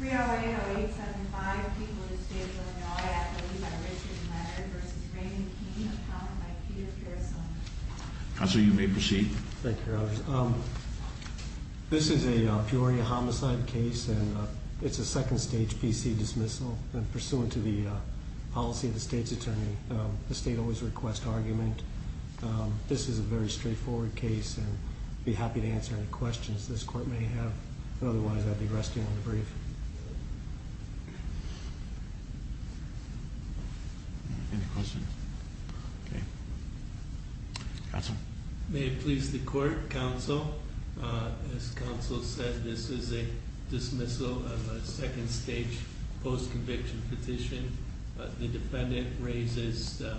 3-0-8-0-8-7-5. People in the state of Illinois, I believe, are Richard Leonard v. Raymond King, accounted by Peter Peresone. Counsel, you may proceed. Thank you, Your Honors. This is a peoria homicide case, and it's a second-stage PC dismissal. And pursuant to the policy of the state's attorney, the state always requests argument. This is a very straightforward case, and I'd be happy to answer any questions this court may have. Otherwise, I'd be resting on the brief. Any questions? Okay. Counsel. May it please the court. Counsel, as counsel said, this is a dismissal of a second-stage post-conviction petition. The defendant raises the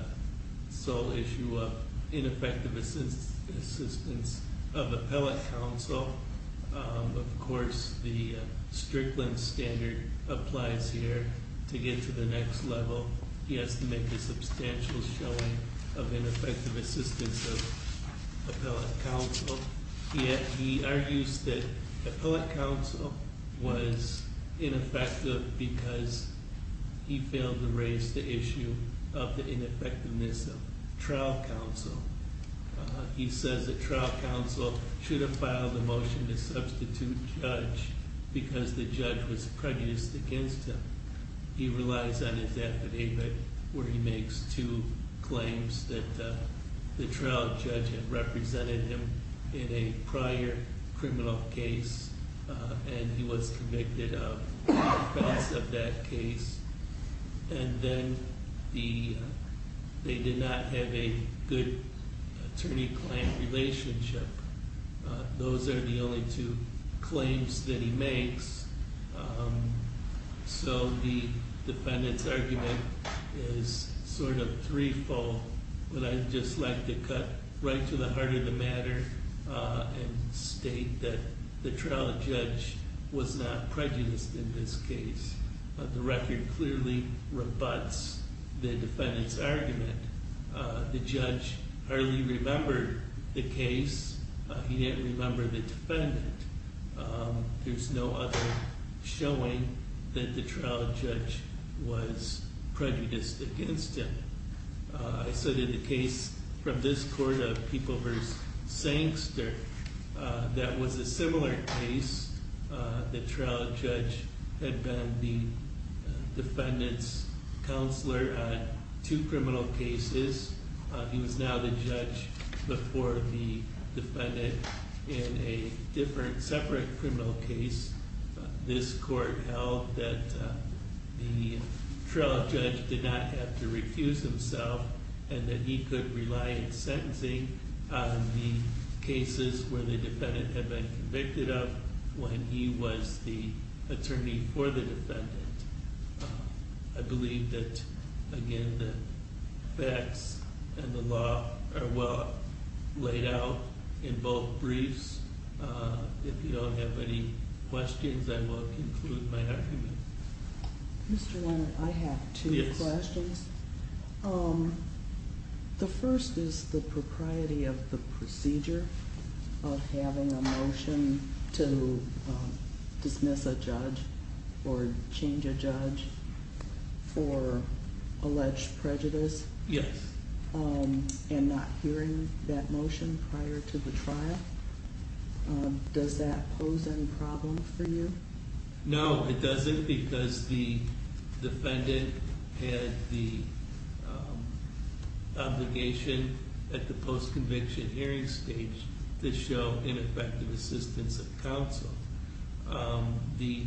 sole issue of ineffective assistance of appellate counsel. Of course, the Strickland standard applies here. To get to the next level, he has to make a substantial showing of ineffective assistance of appellate counsel. Yet he argues that appellate counsel was ineffective because he failed to raise the issue of the ineffectiveness of trial counsel. He says that trial counsel should have filed a motion to substitute judge because the judge was prejudiced against him. He relies on his affidavit where he makes two claims that the trial judge had represented him in a prior criminal case and he was convicted of the offense of that case. And then they did not have a good attorney-client relationship. Those are the only two claims that he makes. So the defendant's argument is sort of three-fold, but I'd just like to cut right to the heart of the matter and state that the trial judge was not prejudiced in this case. The record clearly rebuts the defendant's argument. The judge hardly remembered the case. He didn't remember the defendant. There's no other showing that the trial judge was prejudiced against him. I cited the case from this court of People v. Sankster that was a similar case. The trial judge had been the defendant's counselor on two criminal cases. He was now the judge before the defendant in a different, separate criminal case. This court held that the trial judge did not have to refuse himself and that he could rely on sentencing on the cases where the defendant had been convicted of when he was the attorney for the defendant. I believe that, again, the facts and the law are well laid out in both briefs. If you don't have any questions, I will conclude my argument. Mr. Leonard, I have two questions. The first is the propriety of the procedure of having a motion to dismiss a judge or change a judge for alleged prejudice. Yes. And not hearing that motion prior to the trial. Does that pose any problem for you? No, it doesn't because the defendant had the obligation at the post-conviction hearing stage to show ineffective assistance of counsel. The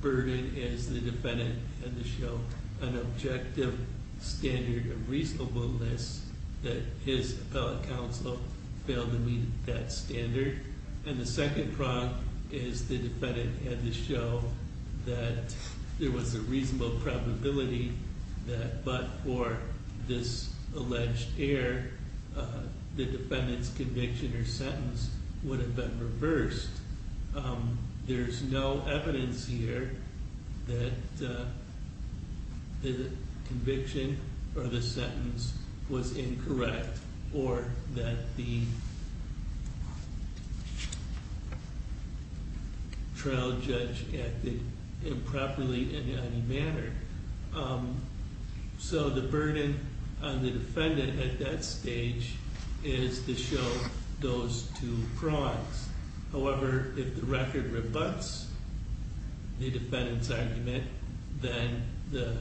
burden is the defendant had to show an objective standard of reasonableness that his appellate counsel failed to meet that standard. And the second problem is the defendant had to show that there was a reasonable probability that but for this alleged error, the defendant's conviction or sentence would have been reversed. There's no evidence here that the conviction or the sentence was incorrect or that the trial judge acted improperly in any manner. So the burden on the defendant at that stage is to show those two prongs. However, if the record rebuts the defendant's argument, then the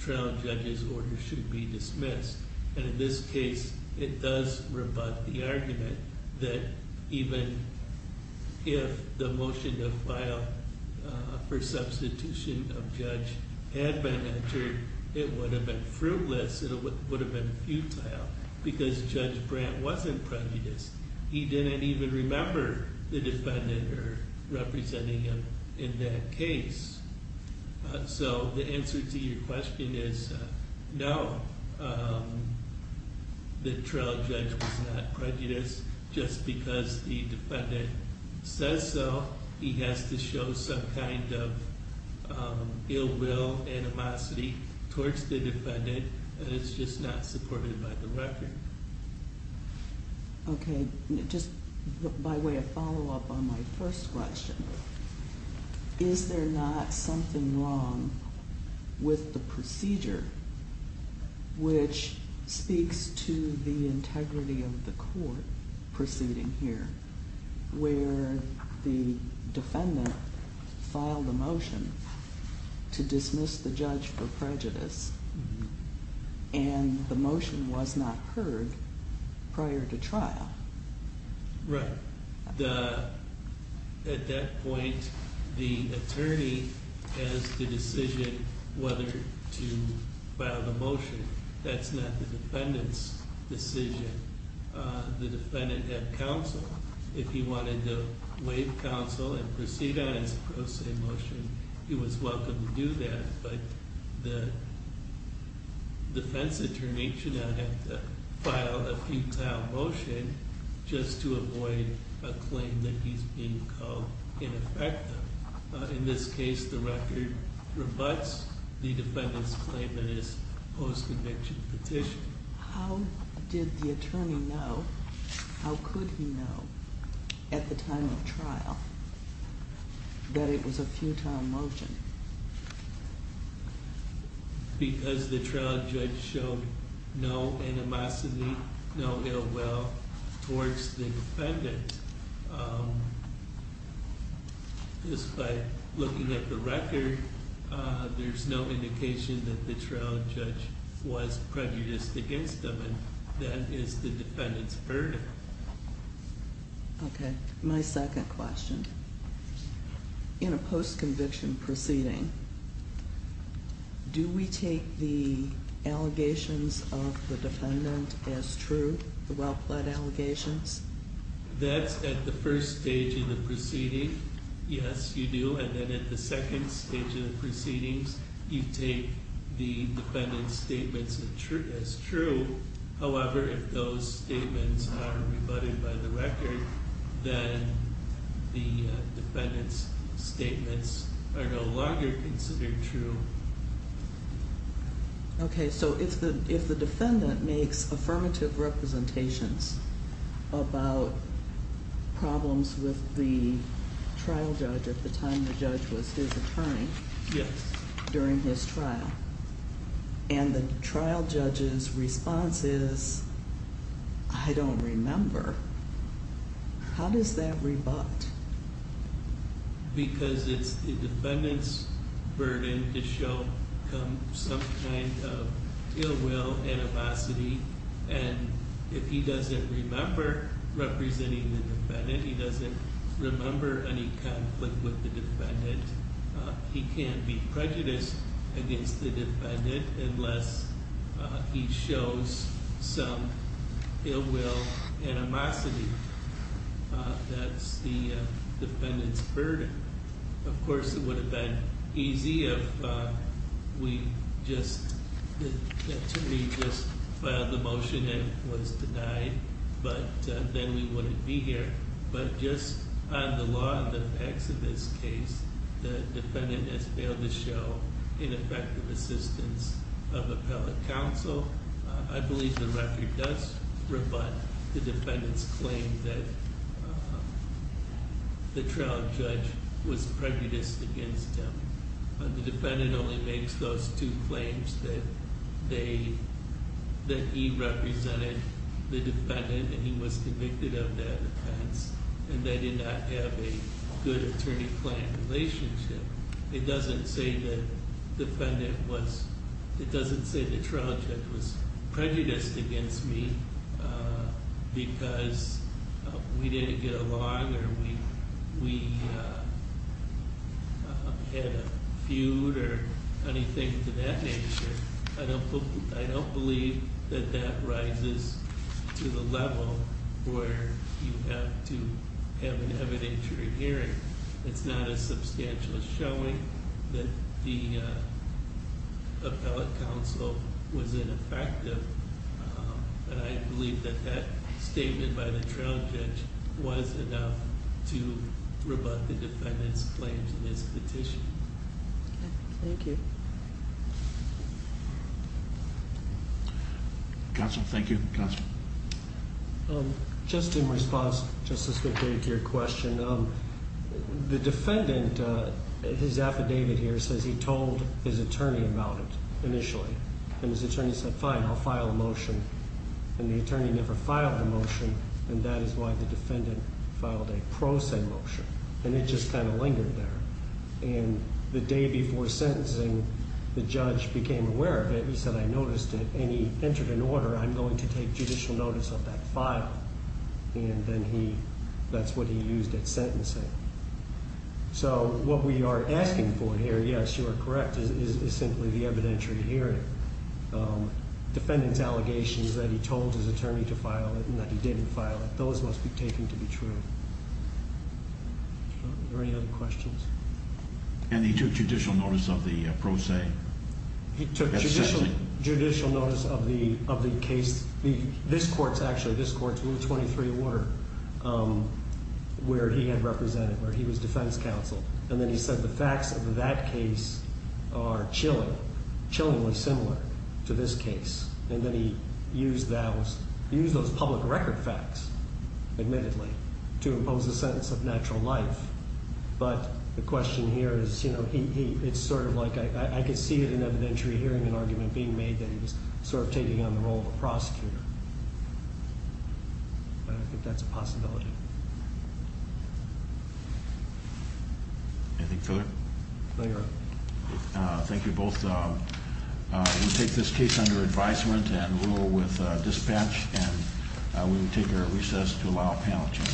trial judge's order should be dismissed. And in this case, it does rebut the argument that even if the motion to file for substitution of judge had been entered, it would have been fruitless, it would have been futile because Judge Brandt wasn't prejudiced. He didn't even remember the defendant or representing him in that case. So the answer to your question is no, the trial judge was not prejudiced. Just because the defendant says so, he has to show some kind of ill will, animosity towards the defendant, and it's just not supported by the record. Okay, just by way of follow-up on my first question, is there not something wrong with the procedure which speaks to the integrity of the court proceeding here, where the defendant filed a motion to dismiss the judge for prejudice and the motion was not heard prior to trial? Right. At that point, the attorney has the decision whether to file the motion. That's not the defendant's decision. The defendant had counsel. If he wanted to waive counsel and proceed on his pro se motion, he was welcome to do that, but the defense attorney should not have to file a futile motion just to avoid a claim that he's being called ineffective. In this case, the record rebuts the defendant's claim that it's a post-conviction petition. How did the attorney know, how could he know, at the time of trial, that it was a futile motion? Because the trial judge showed no animosity, no ill will towards the defendant. Just by looking at the record, there's no indication that the trial judge was prejudiced against him, and that is the defendant's burden. Okay. My second question. In a post-conviction proceeding, do we take the allegations of the defendant as true, the well-plead allegations? That's at the first stage of the proceeding. Yes, you do. And then at the second stage of the proceedings, you take the defendant's statements as true. However, if those statements are rebutted by the record, then the defendant's statements are no longer considered true. Okay, so if the defendant makes affirmative representations about problems with the trial judge at the time the judge was his attorney, during his trial, and the trial judge's response is, I don't remember, how does that rebut? Because it's the defendant's burden to show some kind of ill will, animosity, and if he doesn't remember representing the defendant, he doesn't remember any conflict with the defendant, he can't be prejudiced against the defendant unless he shows some ill will, animosity. That's the defendant's burden. Of course, it would have been easy if the attorney just filed the motion and was denied, but then we wouldn't be here. But just on the law and the facts of this case, the defendant has failed to show ineffective assistance of appellate counsel. I believe the record does rebut the defendant's claim that the trial judge was prejudiced against him. The defendant only makes those two claims that he represented the defendant and he was convicted of that offense, and they did not have a good attorney-client relationship. It doesn't say the trial judge was prejudiced against me because we didn't get along or we had a feud or anything to that nature. I don't believe that that rises to the level where you have to have an evidentiary hearing. It's not as substantial as showing that the appellate counsel was ineffective, but I believe that that statement by the trial judge was enough to rebut the defendant's claims in this petition. Thank you. Counsel, thank you. Counsel. Just in response to your question, the defendant, his affidavit here says he told his attorney about it initially, and his attorney said, fine, I'll file a motion, and the attorney never filed a motion, and that is why the defendant filed a pro se motion, and it just kind of lingered there. And the day before sentencing, the judge became aware of it. He said, I noticed it, and he entered an order. I'm going to take judicial notice of that file, and then that's what he used at sentencing. So what we are asking for here, yes, you are correct, is simply the evidentiary hearing. Defendant's allegations that he told his attorney to file it and that he didn't file it, those must be taken to be true. Are there any other questions? And he took judicial notice of the pro se at sentencing? He took judicial notice of the case. This court's actually, this court's rule 23 order where he had represented, where he was defense counsel, and then he said the facts of that case are chilling, chillingly similar to this case, and then he used those public record facts, admittedly, to impose the sentence of natural life. But the question here is, you know, it's sort of like I could see it in evidentiary hearing, an argument being made that he was sort of taking on the role of a prosecutor. But I think that's a possibility. Anything further? No, Your Honor. Thank you both. We take this case under advisement and rule with dispatch, and we will take a recess to allow panel change.